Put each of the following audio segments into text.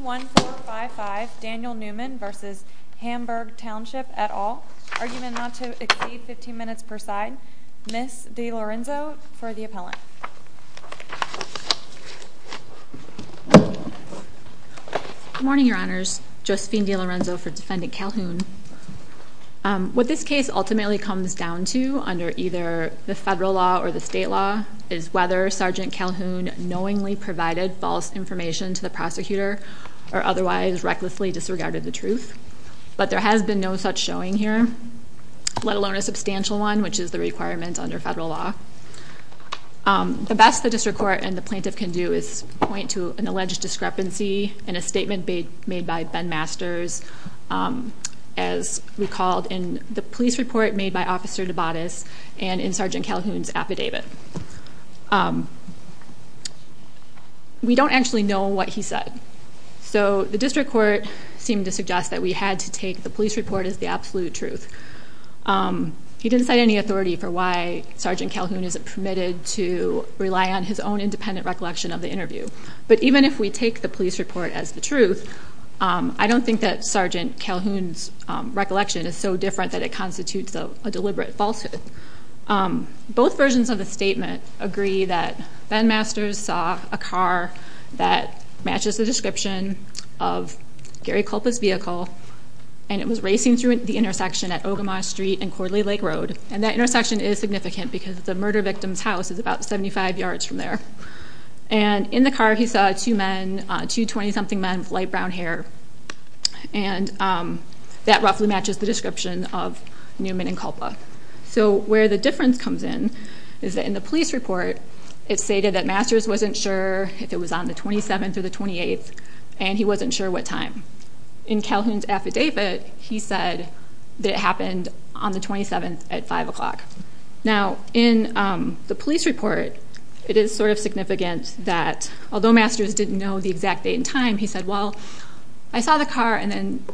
141455 Daniel Newman v. Hamburg Township et al. Argument not to exceed 15 minutes per side. Ms. DeLorenzo for the appellant. Good morning your honors. Josephine DeLorenzo for defendant Calhoun. What this case ultimately comes down to under either the federal law or the state law is whether Sergeant Calhoun knowingly provided false information to the prosecutor or otherwise recklessly disregarded the truth. But there has been no such showing here, let alone a substantial one, which is the requirement under federal law. The best the district court and the plaintiff can do is point to an alleged discrepancy in a statement made by Ben Masters as recalled in the police report made by Officer Dabates and in Sergeant Calhoun's affidavit. We don't actually know what he said. So the district court seemed to suggest that we had to take the police report as the absolute truth. He didn't cite any authority for why Sergeant Calhoun isn't permitted to rely on his own independent recollection of the interview. But even if we take the police report as the truth, I don't think that Sergeant Calhoun's recollection is so different that it constitutes a deliberate falsehood. Both versions of the statement agree that Ben Masters saw a car that matches the description of Gary Culpa's vehicle. And it was racing through the intersection at Ogemaw Street and Cordley Lake Road. And that intersection is significant because the murder victim's house is about 75 yards from there. And in the car he saw two men, two 20-something men with light brown hair. And that roughly matches the description of Newman and Culpa. So where the difference comes in is that in the police report, it stated that Masters wasn't sure if it was on the 27th or the 28th and he wasn't sure what time. In Calhoun's affidavit, he said that it happened on the 27th at 5 o'clock. Now in the police report, it is sort of significant that although Masters didn't know the exact date and time, he said, well, I saw the car and then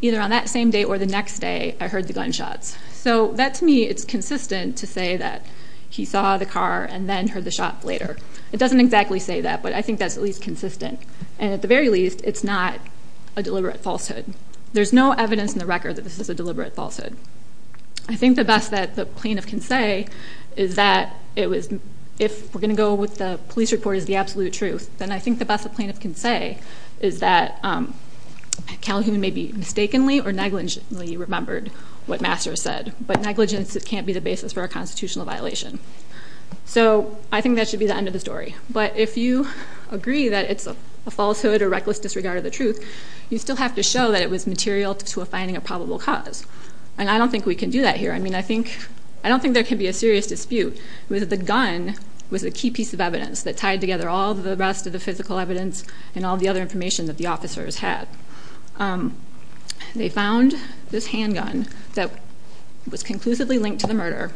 either on that same day or the next day, I heard the gunshots. So that to me, it's consistent to say that he saw the car and then heard the shot later. It doesn't exactly say that, but I think that's at least consistent. And at the very least, it's not a deliberate falsehood. There's no evidence in the record that this is a deliberate falsehood. I think the best that the plaintiff can say is that if we're going to go with the police report as the absolute truth, then I think the best the plaintiff can say is that Calhoun maybe mistakenly or negligently remembered what Masters said. But negligence can't be the basis for a constitutional violation. So I think that should be the end of the story. But if you agree that it's a falsehood or reckless disregard of the truth, you still have to show that it was material to a finding of probable cause. And I don't think we can do that here. I mean, I don't think there can be a serious dispute with the gun was a key piece of evidence that tied together all the rest of the physical evidence and all the other information that the officers had. They found this handgun that was conclusively linked to the murder.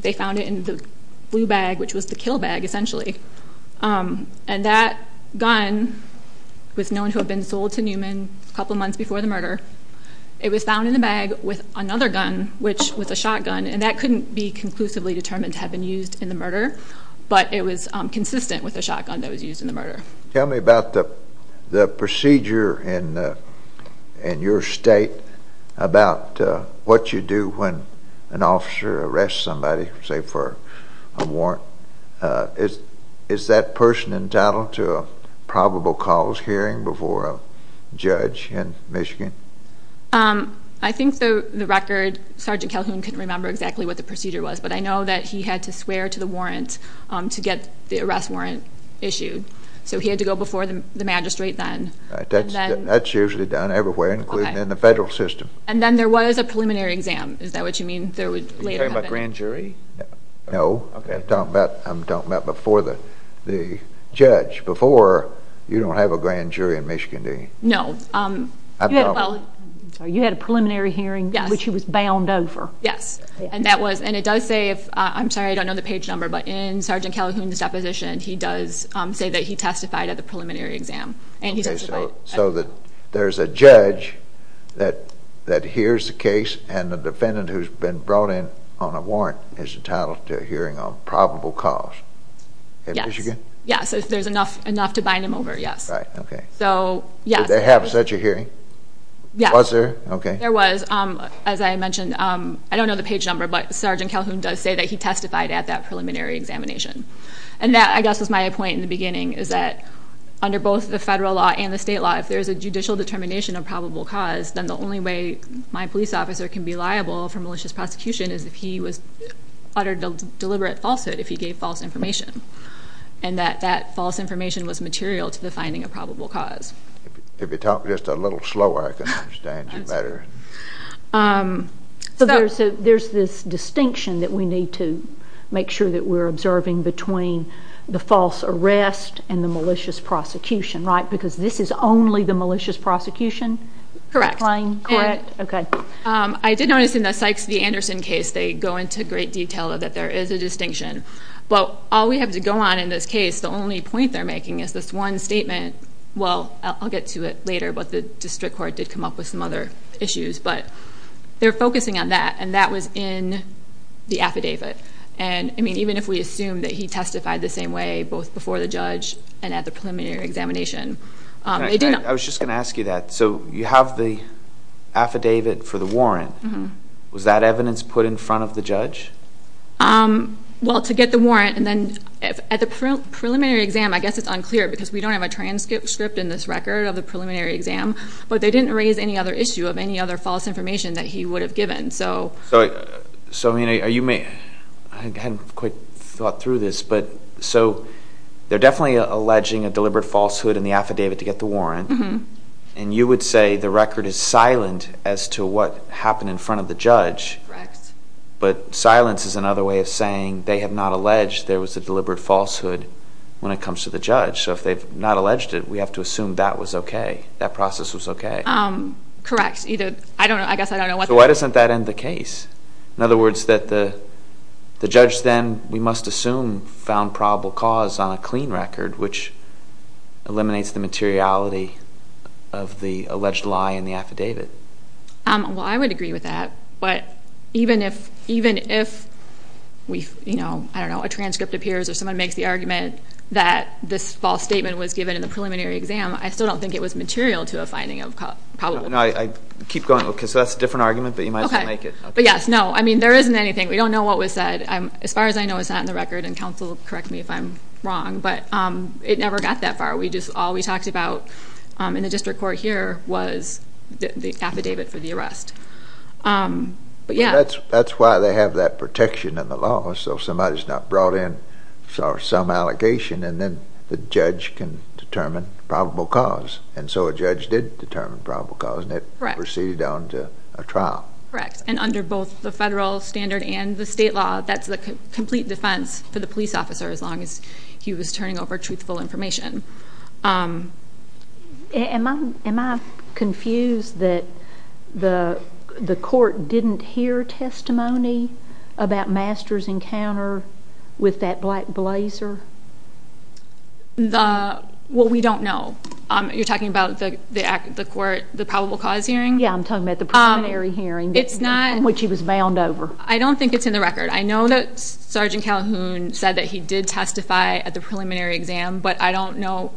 They found it in the blue bag, which was the kill bag, essentially. And that gun was known to have been sold to Newman a couple of months before the murder. It was found in the bag with another gun, which was a shotgun. And that couldn't be conclusively determined to have been used in the murder. But it was consistent with the shotgun that was used in the murder. Tell me about the procedure in your state about what you do when an officer arrests somebody, say, for a warrant. Is that person entitled to a probable cause hearing before a judge in Michigan? I think the record, Sergeant Calhoun couldn't remember exactly what the procedure was. But I know that he had to swear to the warrant to get the arrest warrant issued. So he had to go before the magistrate then. That's usually done everywhere, including in the federal system. And then there was a preliminary exam. Is that what you mean? Are you talking about grand jury? No. I'm talking about before the judge. Before, you don't have a grand jury in Michigan, do you? No. You had a preliminary hearing, which he was bound over. Yes. And it does say, I'm sorry, I don't know the page number, but in Sergeant Calhoun's deposition, he does say that he testified at the preliminary exam. So there's a judge that hears the case and the defendant who's been brought in on a warrant is entitled to a hearing on probable cause. Yes. In Michigan? Yes. If there's enough to bind him over, yes. Did they have such a hearing? Yes. Was there? There was. As I mentioned, I don't know the page number, but Sergeant Calhoun does say that he testified at that preliminary examination. And that, I guess, was my point in the beginning, is that under both the federal law and the state law, if there's a judicial determination of probable cause, then the only way my police officer can be liable for malicious prosecution is if he was uttered deliberate falsehood, if he gave false information, and that that false information was material to the finding of probable cause. If you talk just a little slower, I can understand you better. So there's this distinction that we need to make sure that we're observing between the false arrest and the malicious prosecution, right? Because this is only the malicious prosecution? Correct. Okay. I did notice in the Sykes v. Anderson case, they go into great detail that there is a distinction. But all we have to go on in this case, the only point they're making is this one statement. Well, I'll get to it later, but the district court did come up with some other issues. But they're focusing on that, and that was in the affidavit. And, I mean, even if we assume that he testified the same way, both before the judge and at the preliminary examination. I was just going to ask you that. So you have the affidavit for the warrant. Was that evidence put in front of the judge? Well, to get the warrant, and then at the preliminary exam, I guess it's unclear because we don't have a transcript in this record of the preliminary exam. But they didn't raise any other issue of any other false information that he would have given. So, I mean, I hadn't quite thought through this, but so they're definitely alleging a deliberate falsehood in the affidavit to get the warrant. And you would say the record is silent as to what happened in front of the judge. Correct. But silence is another way of saying they have not alleged there was a deliberate falsehood when it comes to the judge. So if they've not alleged it, we have to assume that was okay, that process was okay. Correct. I don't know. I guess I don't know. So why doesn't that end the case? In other words, that the judge then, we must assume, found probable cause on a clean record, which eliminates the materiality of the alleged lie in the affidavit. Well, I would agree with that. But even if, you know, I don't know, a transcript appears or someone makes the argument that this false statement was given in the preliminary exam, I still don't think it was material to a finding of probable cause. No, I keep going. Okay, so that's a different argument, but you might as well make it. Okay. But, yes, no, I mean, there isn't anything. We don't know what was said. As far as I know, it's not in the record, and counsel, correct me if I'm wrong, but it never got that far. We just, all we talked about in the district court here was the affidavit for the arrest. But, yes. That's why they have that protection in the law, so somebody's not brought in for some allegation, and then the judge can determine probable cause. And so a judge did determine probable cause, and it proceeded on to a trial. Correct. And under both the federal standard and the state law, that's the complete defense for the police officer as long as he was turning over truthful information. Am I confused that the court didn't hear testimony about Master's encounter with that black blazer? Well, we don't know. You're talking about the probable cause hearing? Yeah, I'm talking about the preliminary hearing in which he was bound over. I don't think it's in the record. I know that Sergeant Calhoun said that he did testify at the preliminary exam, but I don't know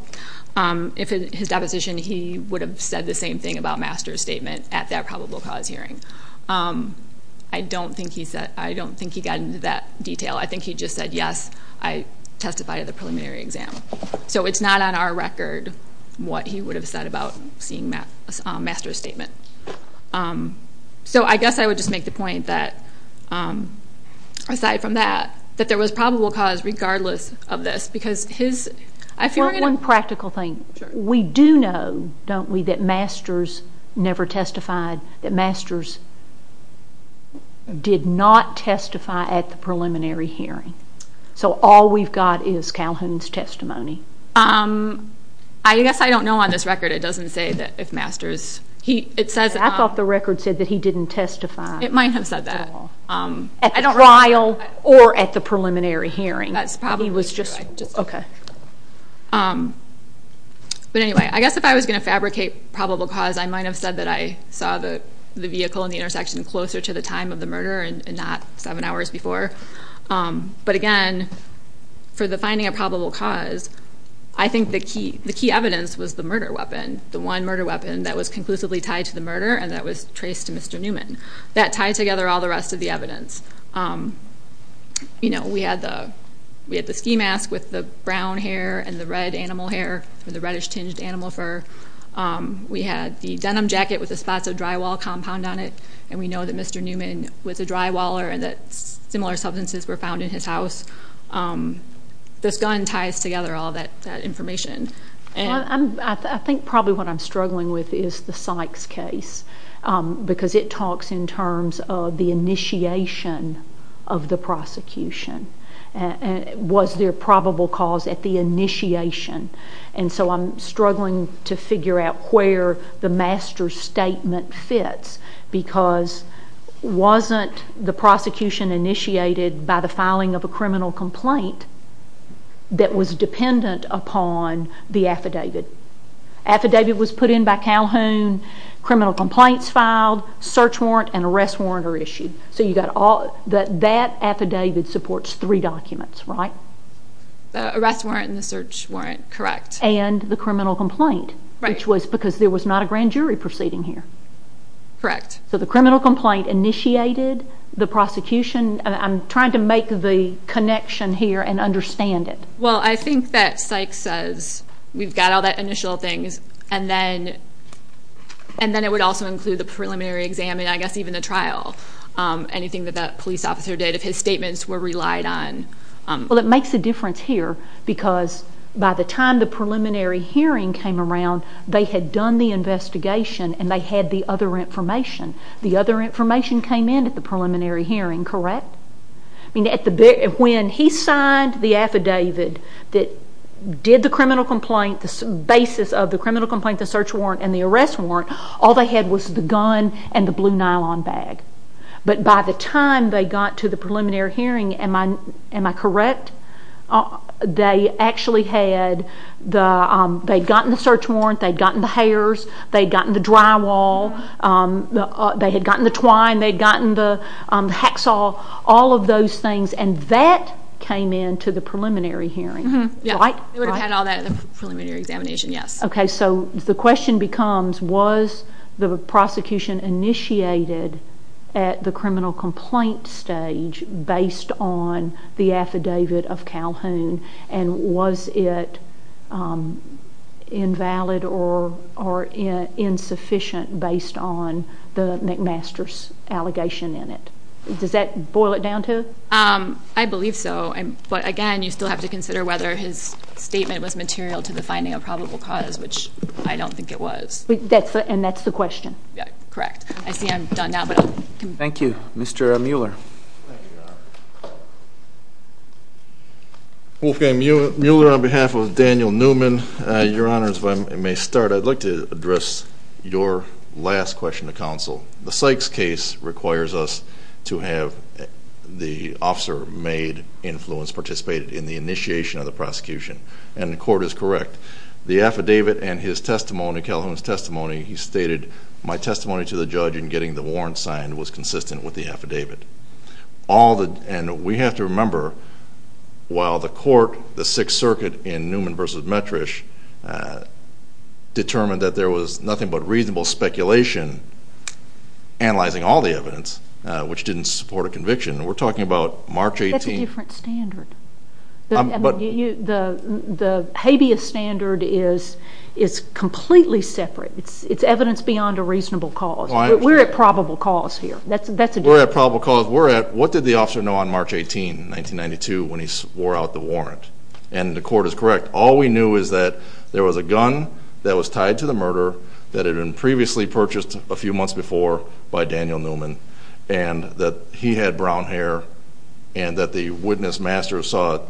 if in his deposition he would have said the same thing about Master's statement at that probable cause hearing. I don't think he got into that detail. I think he just said, yes, I testified at the preliminary exam. So it's not on our record what he would have said about seeing Master's statement. So I guess I would just make the point that, aside from that, that there was probable cause regardless of this. One practical thing. We do know, don't we, that Master's never testified, that Master's did not testify at the preliminary hearing. So all we've got is Calhoun's testimony. I guess I don't know on this record. It doesn't say that if Master's. I thought the record said that he didn't testify. It might have said that. At the trial or at the preliminary hearing. That's probably right. But anyway, I guess if I was going to fabricate probable cause, I might have said that I saw the vehicle in the intersection closer to the time of the murder and not seven hours before. But, again, for the finding of probable cause, I think the key evidence was the murder weapon, the one murder weapon that was conclusively tied to the murder and that was traced to Mr. Newman. That tied together all the rest of the evidence. We had the ski mask with the brown hair and the red animal hair with the reddish-tinged animal fur. We had the denim jacket with the spots of drywall compound on it. And we know that Mr. Newman was a drywaller and that similar substances were found in his house. This gun ties together all that information. I think probably what I'm struggling with is the Sykes case because it talks in terms of the initiation of the prosecution. Was there probable cause at the initiation? And so I'm struggling to figure out where the Master's statement fits because wasn't the prosecution initiated by the filing of a criminal complaint that was dependent upon the affidavit? Affidavit was put in by Calhoun, criminal complaints filed, search warrant and arrest warrant are issued. So that affidavit supports three documents, right? The arrest warrant and the search warrant, correct. And the criminal complaint, which was because there was not a grand jury proceeding here. Correct. So the criminal complaint initiated the prosecution. I'm trying to make the connection here and understand it. Well, I think that Sykes says we've got all that initial things and then it would also include the preliminary exam and I guess even the trial, anything that that police officer did if his statements were relied on. Well, it makes a difference here because by the time the preliminary hearing came around, they had done the investigation and they had the other information. The other information came in at the preliminary hearing, correct? When he signed the affidavit that did the criminal complaint, the basis of the criminal complaint, the search warrant and the arrest warrant, all they had was the gun and the blue nylon bag. But by the time they got to the preliminary hearing, am I correct? They actually had gotten the search warrant, they'd gotten the hairs, they'd gotten the drywall, they had gotten the twine, they'd gotten the hacksaw, all of those things. And that came in to the preliminary hearing, right? They would have had all that at the preliminary examination, yes. Okay, so the question becomes, was the prosecution initiated at the criminal complaint stage based on the affidavit of Calhoun? And was it invalid or insufficient based on the McMaster's allegation in it? Does that boil it down to? I believe so. But again, you still have to consider whether his statement was material to the finding of probable cause, which I don't think it was. And that's the question? Correct. I see I'm done now. Thank you. Mr. Mueller. Wolfgang Mueller on behalf of Daniel Newman. Your Honors, if I may start, I'd like to address your last question to counsel. The Sykes case requires us to have the officer made influence, participated in the initiation of the prosecution, and the court is correct. The affidavit and his testimony, Calhoun's testimony, he stated, my testimony to the judge in getting the warrant signed was consistent with the affidavit. And we have to remember, while the court, the Sixth Circuit, in Newman v. Metrish, determined that there was nothing but reasonable speculation, analyzing all the evidence, which didn't support a conviction. We're talking about March 18th. That's a different standard. The habeas standard is completely separate. It's evidence beyond a reasonable cause. We're at probable cause here. We're at probable cause. What did the officer know on March 18, 1992, when he swore out the warrant? And the court is correct. All we knew is that there was a gun that was tied to the murder that had been previously purchased a few months before by Daniel Newman, and that he had brown hair, and that the witness, Masters, saw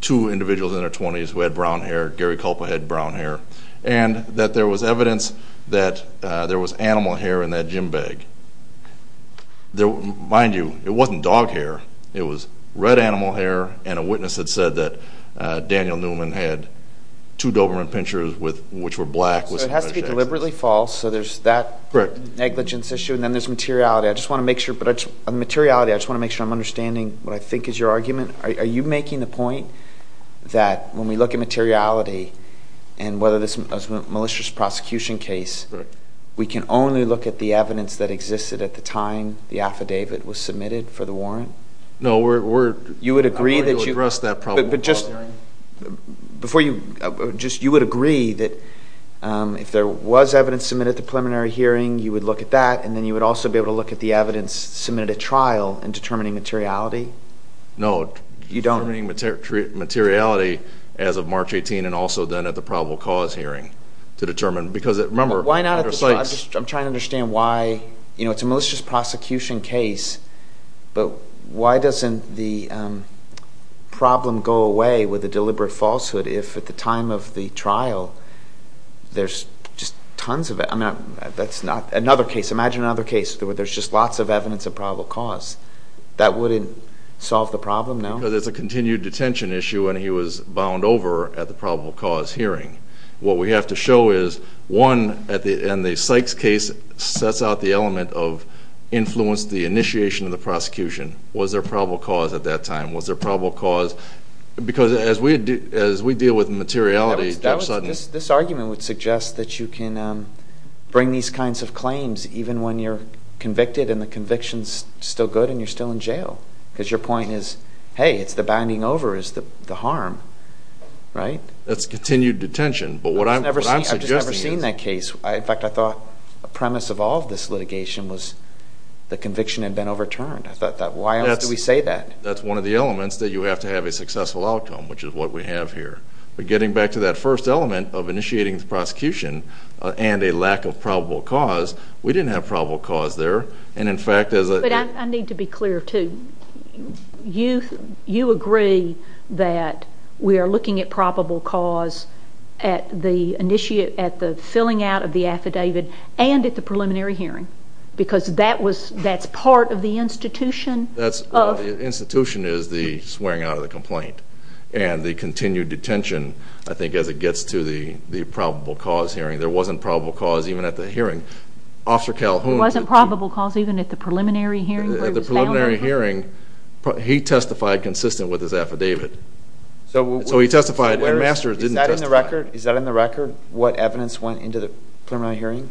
two individuals in their 20s who had brown hair. Gary Culpa had brown hair. And that there was evidence that there was animal hair in that gym bag. Mind you, it wasn't dog hair. It was red animal hair, and a witness had said that Daniel Newman had two Doberman pinchers, which were black. So it has to be deliberately false. So there's that negligence issue, and then there's materiality. On the materiality, I just want to make sure I'm understanding what I think is your argument. Are you making the point that when we look at materiality and whether this was a malicious prosecution case, we can only look at the evidence that existed at the time the affidavit was submitted for the warrant? No. You would agree that you would agree that if there was evidence submitted at the preliminary hearing, you would look at that, and then you would also be able to look at the evidence submitted at trial in determining materiality? You don't? Determining materiality as of March 18 and also then at the probable cause hearing to determine. Because remember, under Sykes... I'm trying to understand why. It's a malicious prosecution case, but why doesn't the problem go away with a deliberate falsehood if at the time of the trial there's just tons of it? I mean, that's not another case. Imagine another case where there's just lots of evidence of probable cause. That wouldn't solve the problem, no? Because it's a continued detention issue, and he was bound over at the probable cause hearing. What we have to show is, one, and the Sykes case sets out the element of influence, the initiation of the prosecution. Was there probable cause at that time? Was there probable cause? Because as we deal with materiality... This argument would suggest that you can bring these kinds of claims even when you're convicted and the conviction's still good and you're still in jail. Because your point is, hey, it's the binding over is the harm, right? That's continued detention, but what I'm suggesting is... I've just never seen that case. In fact, I thought a premise of all of this litigation was the conviction had been overturned. Why else do we say that? That's one of the elements, that you have to have a successful outcome, But getting back to that first element of initiating the prosecution and a lack of probable cause, we didn't have probable cause there, and in fact... But I need to be clear, too. You agree that we are looking at probable cause at the filling out of the affidavit and at the preliminary hearing, because that's part of the institution of... The institution is the swearing out of the complaint, and the continued detention, I think, as it gets to the probable cause hearing, there wasn't probable cause even at the hearing. Officer Calhoun... There wasn't probable cause even at the preliminary hearing? At the preliminary hearing, he testified consistent with his affidavit. So he testified, and Masters didn't testify. Is that in the record, what evidence went into the preliminary hearing?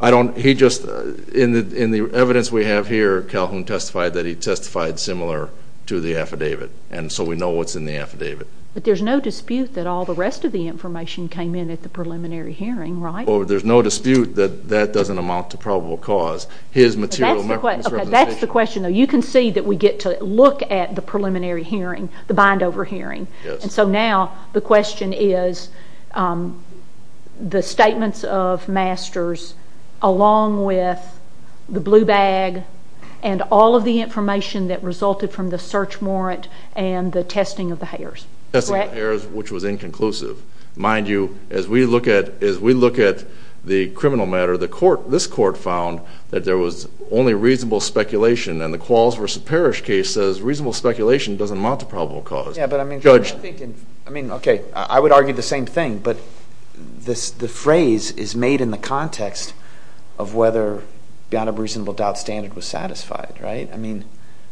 I don't... He just... In the evidence we have here, Calhoun testified that he testified similar to the affidavit, and so we know what's in the affidavit. But there's no dispute that all the rest of the information came in at the preliminary hearing, right? There's no dispute that that doesn't amount to probable cause. His material... That's the question, though. You can see that we get to look at the preliminary hearing, the Bindover hearing, and so now the question is the statements of Masters along with the blue bag and all of the information that resulted from the search warrant and the testing of the hairs. Testing of the hairs, which was inconclusive. Mind you, as we look at the criminal matter, this court found that there was only reasonable speculation, and the Qualls v. Parrish case says reasonable speculation doesn't amount to probable cause. Yeah, but I mean... Judge... I mean, okay, I would argue the same thing, but the phrase is made in the context of whether beyond a reasonable doubt standard was satisfied, right? I mean,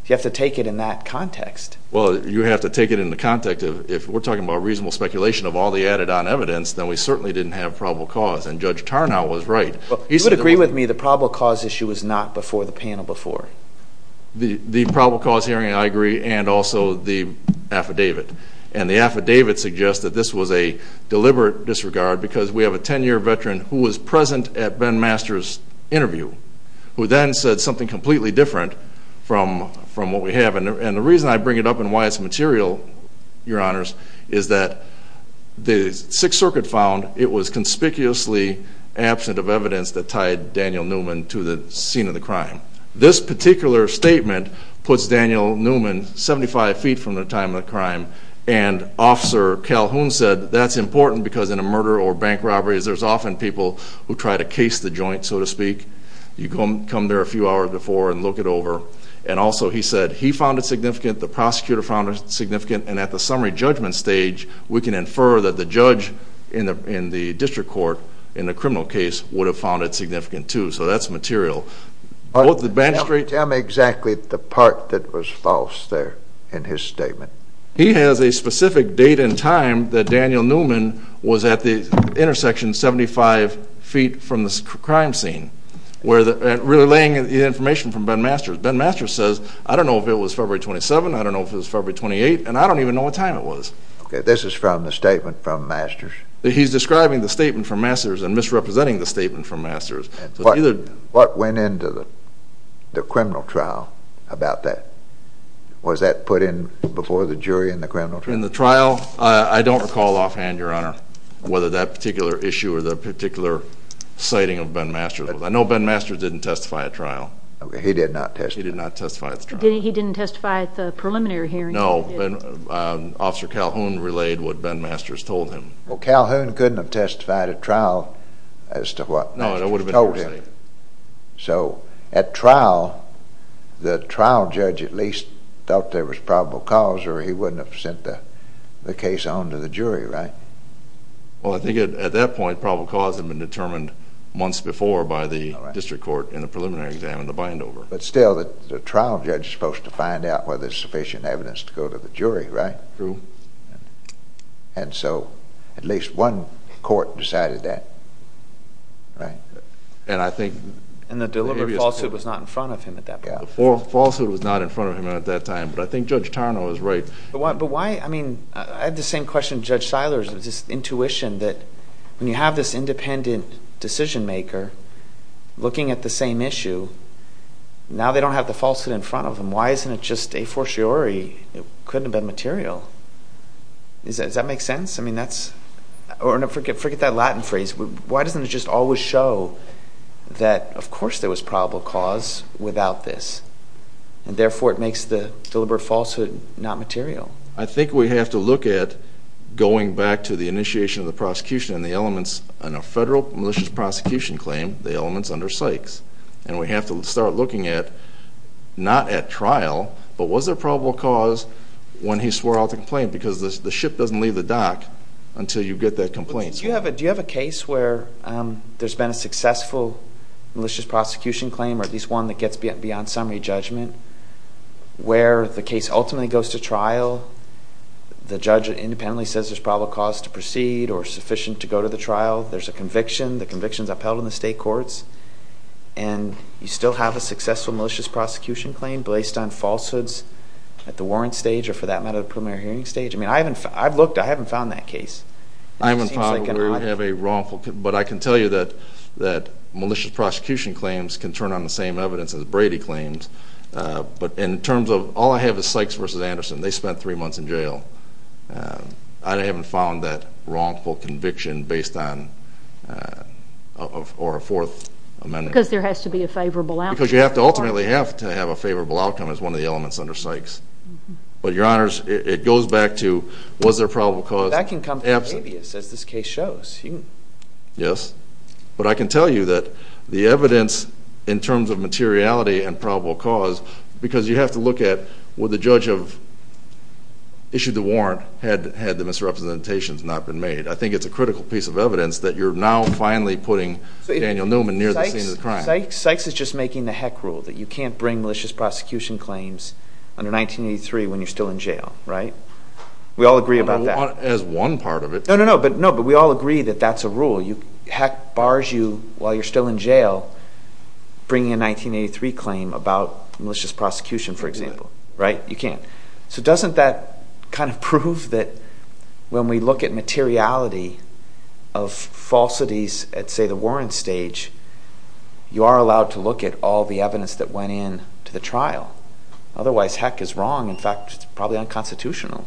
you have to take it in that context. Well, you have to take it in the context of if we're talking about reasonable speculation of all the added-on evidence, then we certainly didn't have probable cause, and Judge Tarnow was right. You would agree with me the probable cause issue was not before the panel before? The probable cause hearing, I agree, and also the affidavit. And the affidavit suggests that this was a deliberate disregard because we have a 10-year veteran who was present at Ben Masters' interview who then said something completely different from what we have. And the reason I bring it up and why it's material, Your Honors, is that the Sixth Circuit found it was conspicuously absent of evidence that tied Daniel Newman to the scene of the crime. This particular statement puts Daniel Newman 75 feet from the time of the crime, and Officer Calhoun said that's important because in a murder or bank robbery there's often people who try to case the joint, so to speak. You come there a few hours before and look it over. And also he said he found it significant, the prosecutor found it significant, and at the summary judgment stage we can infer that the judge in the district court in the criminal case would have found it significant, too. So that's material. Tell me exactly the part that was false there in his statement. He has a specific date and time that Daniel Newman was at the intersection 75 feet from the crime scene, relaying the information from Ben Masters. Ben Masters says, I don't know if it was February 27, I don't know if it was February 28, and I don't even know what time it was. Okay, this is from the statement from Masters. He's describing the statement from Masters and misrepresenting the statement from Masters. What went into the criminal trial about that? Was that put in before the jury in the criminal trial? In the trial, I don't recall offhand, Your Honor, whether that particular issue or the particular citing of Ben Masters. I know Ben Masters didn't testify at trial. He did not testify. He did not testify at the trial. He didn't testify at the preliminary hearing? No, Officer Calhoun relayed what Ben Masters told him. Well, Calhoun couldn't have testified at trial as to what Masters told him. No, that would have been interesting. So at trial, the trial judge at least thought there was probable cause or he wouldn't have sent the case on to the jury, right? Well, I think at that point, probable cause had been determined months before by the district court in the preliminary exam in the Bindover. But still, the trial judge is supposed to find out whether there's sufficient evidence to go to the jury, right? True. And so at least one court decided that, right? And I think— And the deliberate falsehood was not in front of him at that point. Falsehood was not in front of him at that time, but I think Judge Tarnow is right. But why—I mean, I had the same question to Judge Siler. It was just intuition that when you have this independent decision maker looking at the same issue, now they don't have the falsehood in front of them. Why isn't it just a fortiori? It couldn't have been material. Does that make sense? I mean, that's—or forget that Latin phrase. Why doesn't it just always show that, of course, there was probable cause without this, and therefore it makes the deliberate falsehood not material? I think we have to look at going back to the initiation of the prosecution and the elements in a federal malicious prosecution claim, the elements under Sykes. And we have to start looking at not at trial, but was there probable cause when he swore out the complaint? Because the ship doesn't leave the dock until you get that complaint. Do you have a case where there's been a successful malicious prosecution claim or at least one that gets beyond summary judgment where the case ultimately goes to trial, the judge independently says there's probable cause to proceed or sufficient to go to the trial, there's a conviction, the conviction is upheld in the state courts, and you still have a successful malicious prosecution claim based on falsehoods at the warrant stage or, for that matter, the preliminary hearing stage? I mean, I haven't found that case. I haven't found where you have a wrongful— But I can tell you that malicious prosecution claims can turn on the same evidence as Brady claims. But in terms of—all I have is Sykes v. Anderson. They spent three months in jail. I haven't found that wrongful conviction based on—or a Fourth Amendment. Because there has to be a favorable outcome. Because you ultimately have to have a favorable outcome as one of the elements under Sykes. But, Your Honors, it goes back to was there probable cause— That can come from habeas, as this case shows. Yes. But I can tell you that the evidence in terms of materiality and probable cause, because you have to look at would the judge have issued the warrant had the misrepresentations not been made. I think it's a critical piece of evidence that you're now finally putting Daniel Newman near the scene of the crime. Sykes is just making the heck rule that you can't bring malicious prosecution claims under 1983 when you're still in jail, right? We all agree about that. As one part of it. No, no, no. But we all agree that that's a rule. Heck bars you while you're still in jail bringing a 1983 claim about malicious prosecution, for example, right? You can't. So doesn't that kind of prove that when we look at materiality of falsities at, say, the warrant stage, you are allowed to look at all the evidence that went in to the trial? Otherwise, heck, it's wrong. In fact, it's probably unconstitutional.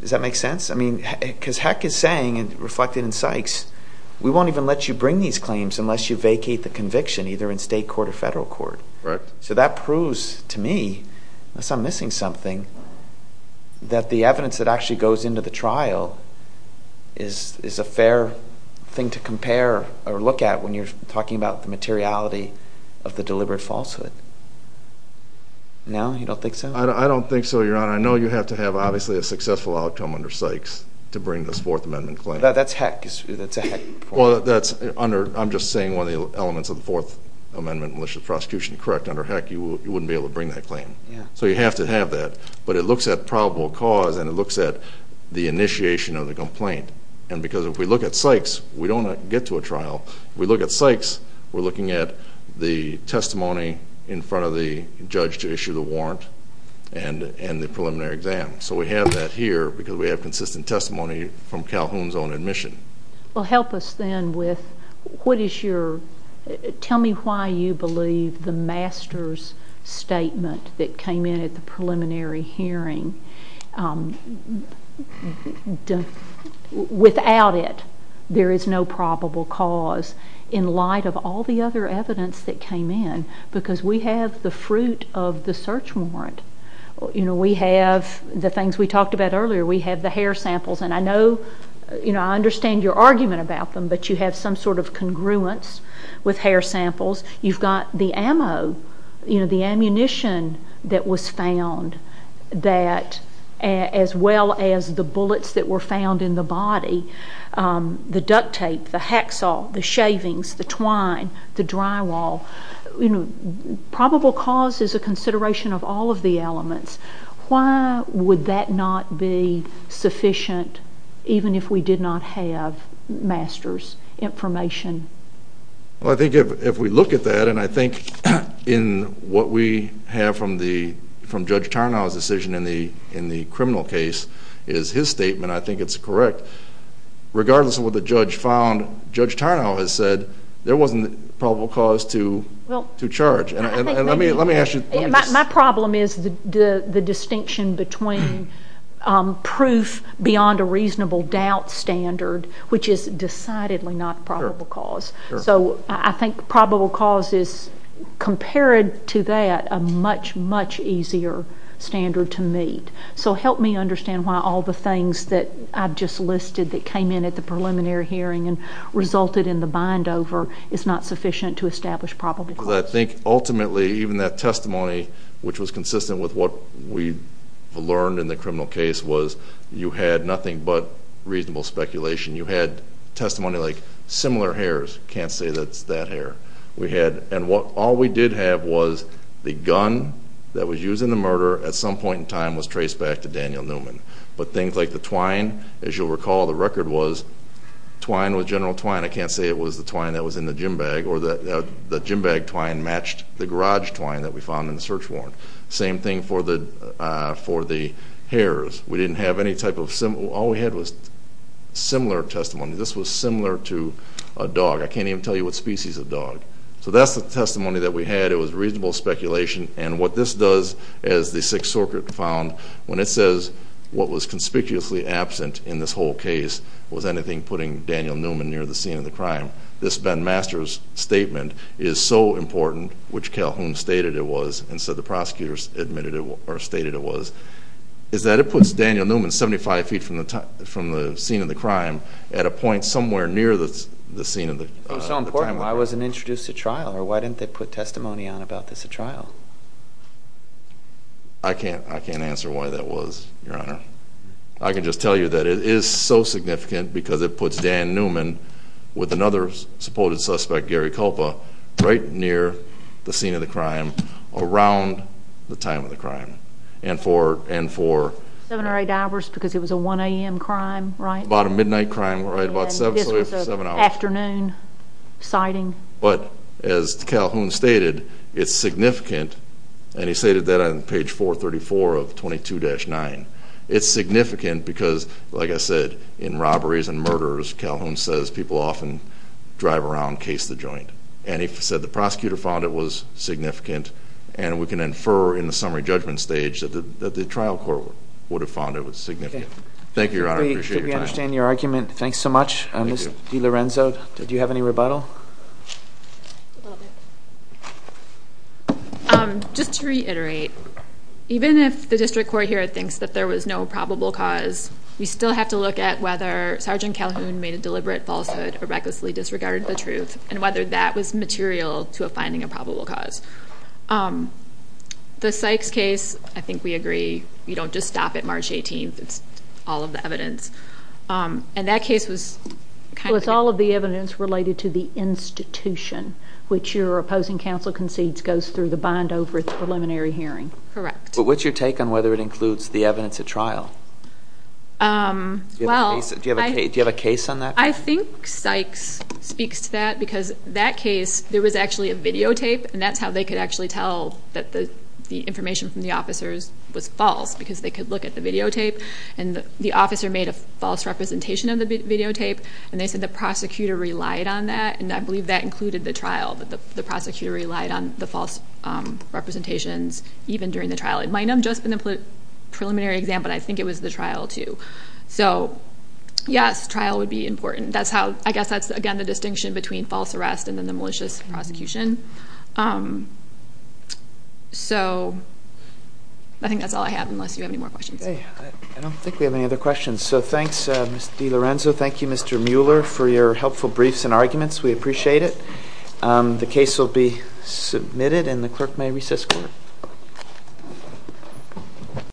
Does that make sense? I mean, because heck is saying, reflected in Sykes, we won't even let you bring these claims unless you vacate the conviction either in state court or federal court. Correct. So that proves to me, unless I'm missing something, that the evidence that actually goes in to the trial is a fair thing to compare or look at when you're talking about the materiality of the deliberate falsehood. No? You don't think so? I don't think so, Your Honor. I know you have to have, obviously, a successful outcome under Sykes to bring this Fourth Amendment claim. That's heck. That's a heck point. I'm just saying one of the elements of the Fourth Amendment, malicious prosecution, correct. Under heck, you wouldn't be able to bring that claim. So you have to have that. But it looks at probable cause, and it looks at the initiation of the complaint. And because if we look at Sykes, we don't get to a trial. If we look at Sykes, we're looking at the testimony in front of the judge to issue the warrant and the preliminary exam. So we have that here because we have consistent testimony from Calhoun's own admission. Well, help us then with what is your— tell me why you believe the master's statement that came in at the preliminary hearing. Without it, there is no probable cause in light of all the other evidence that came in because we have the fruit of the search warrant. We have the things we talked about earlier. We have the hair samples, and I know— I understand your argument about them, but you have some sort of congruence with hair samples. You've got the ammo, the ammunition that was found, as well as the bullets that were found in the body, the duct tape, the hacksaw, the shavings, the twine, the drywall. Probable cause is a consideration of all of the elements. Why would that not be sufficient even if we did not have master's information? Well, I think if we look at that, and I think in what we have from Judge Tarnow's decision in the criminal case is his statement, and I think it's correct, regardless of what the judge found, Judge Tarnow has said there wasn't probable cause to charge. Let me ask you— My problem is the distinction between proof beyond a reasonable doubt standard, which is decidedly not probable cause. So I think probable cause is, compared to that, a much, much easier standard to meet. So help me understand why all the things that I've just listed that came in at the preliminary hearing and resulted in the bind-over is not sufficient to establish probable cause. Because I think, ultimately, even that testimony, which was consistent with what we learned in the criminal case, was you had nothing but reasonable speculation. You had testimony like, similar hairs. Can't say that's that hair. And all we did have was the gun that was used in the murder at some point in time was traced back to Daniel Newman. But things like the twine, as you'll recall the record was, twine was general twine. I can't say it was the twine that was in the gym bag, or the gym bag twine matched the garage twine that we found in the search warrant. Same thing for the hairs. We didn't have any type of—all we had was similar testimony. This was similar to a dog. I can't even tell you what species of dog. So that's the testimony that we had. It was reasonable speculation. And what this does, as the Sixth Circuit found, when it says what was conspicuously absent in this whole case was anything putting Daniel Newman near the scene of the crime, this Ben Masters statement is so important, which Calhoun stated it was and said the prosecutors admitted it or stated it was, is that it puts Daniel Newman 75 feet from the scene of the crime at a point somewhere near the scene of the crime. It was so important. Why wasn't it introduced at trial, or why didn't they put testimony on about this at trial? I can't answer why that was, Your Honor. I can just tell you that it is so significant because it puts Dan Newman with another supported suspect, Gary Culpa, right near the scene of the crime around the time of the crime and for— Seven or eight hours because it was a 1 a.m. crime, right? About a midnight crime, right? Afternoon sighting. But as Calhoun stated, it's significant, and he stated that on page 434 of 22-9. It's significant because, like I said, in robberies and murders, Calhoun says people often drive around and case the joint. And he said the prosecutor found it was significant, and we can infer in the summary judgment stage that the trial court would have found it was significant. Thank you, Your Honor. I appreciate your time. I understand your argument. Thanks so much. Ms. DiLorenzo, do you have any rebuttal? Just to reiterate, even if the district court here thinks that there was no probable cause, we still have to look at whether Sergeant Calhoun made a deliberate falsehood or recklessly disregarded the truth, and whether that was material to a finding of probable cause. The Sykes case, I think we agree, we don't just stop at March 18th. It's all of the evidence. And that case was kind of... It was all of the evidence related to the institution, which your opposing counsel concedes goes through the bind-over at the preliminary hearing. Correct. But what's your take on whether it includes the evidence at trial? Do you have a case on that? I think Sykes speaks to that because that case, there was actually a videotape, and that's how they could actually tell that the information from the officers was false, because they could look at the videotape, and the officer made a false representation of the videotape, and they said the prosecutor relied on that, and I believe that included the trial, that the prosecutor relied on the false representations even during the trial. It might not have just been the preliminary exam, but I think it was the trial too. So, yes, trial would be important. I guess that's, again, the distinction between false arrest and then the malicious prosecution. So I think that's all I have, unless you have any more questions. Okay. I don't think we have any other questions, so thanks, Ms. DiLorenzo. Thank you, Mr. Mueller, for your helpful briefs and arguments. We appreciate it. The case will be submitted, and the clerk may recess.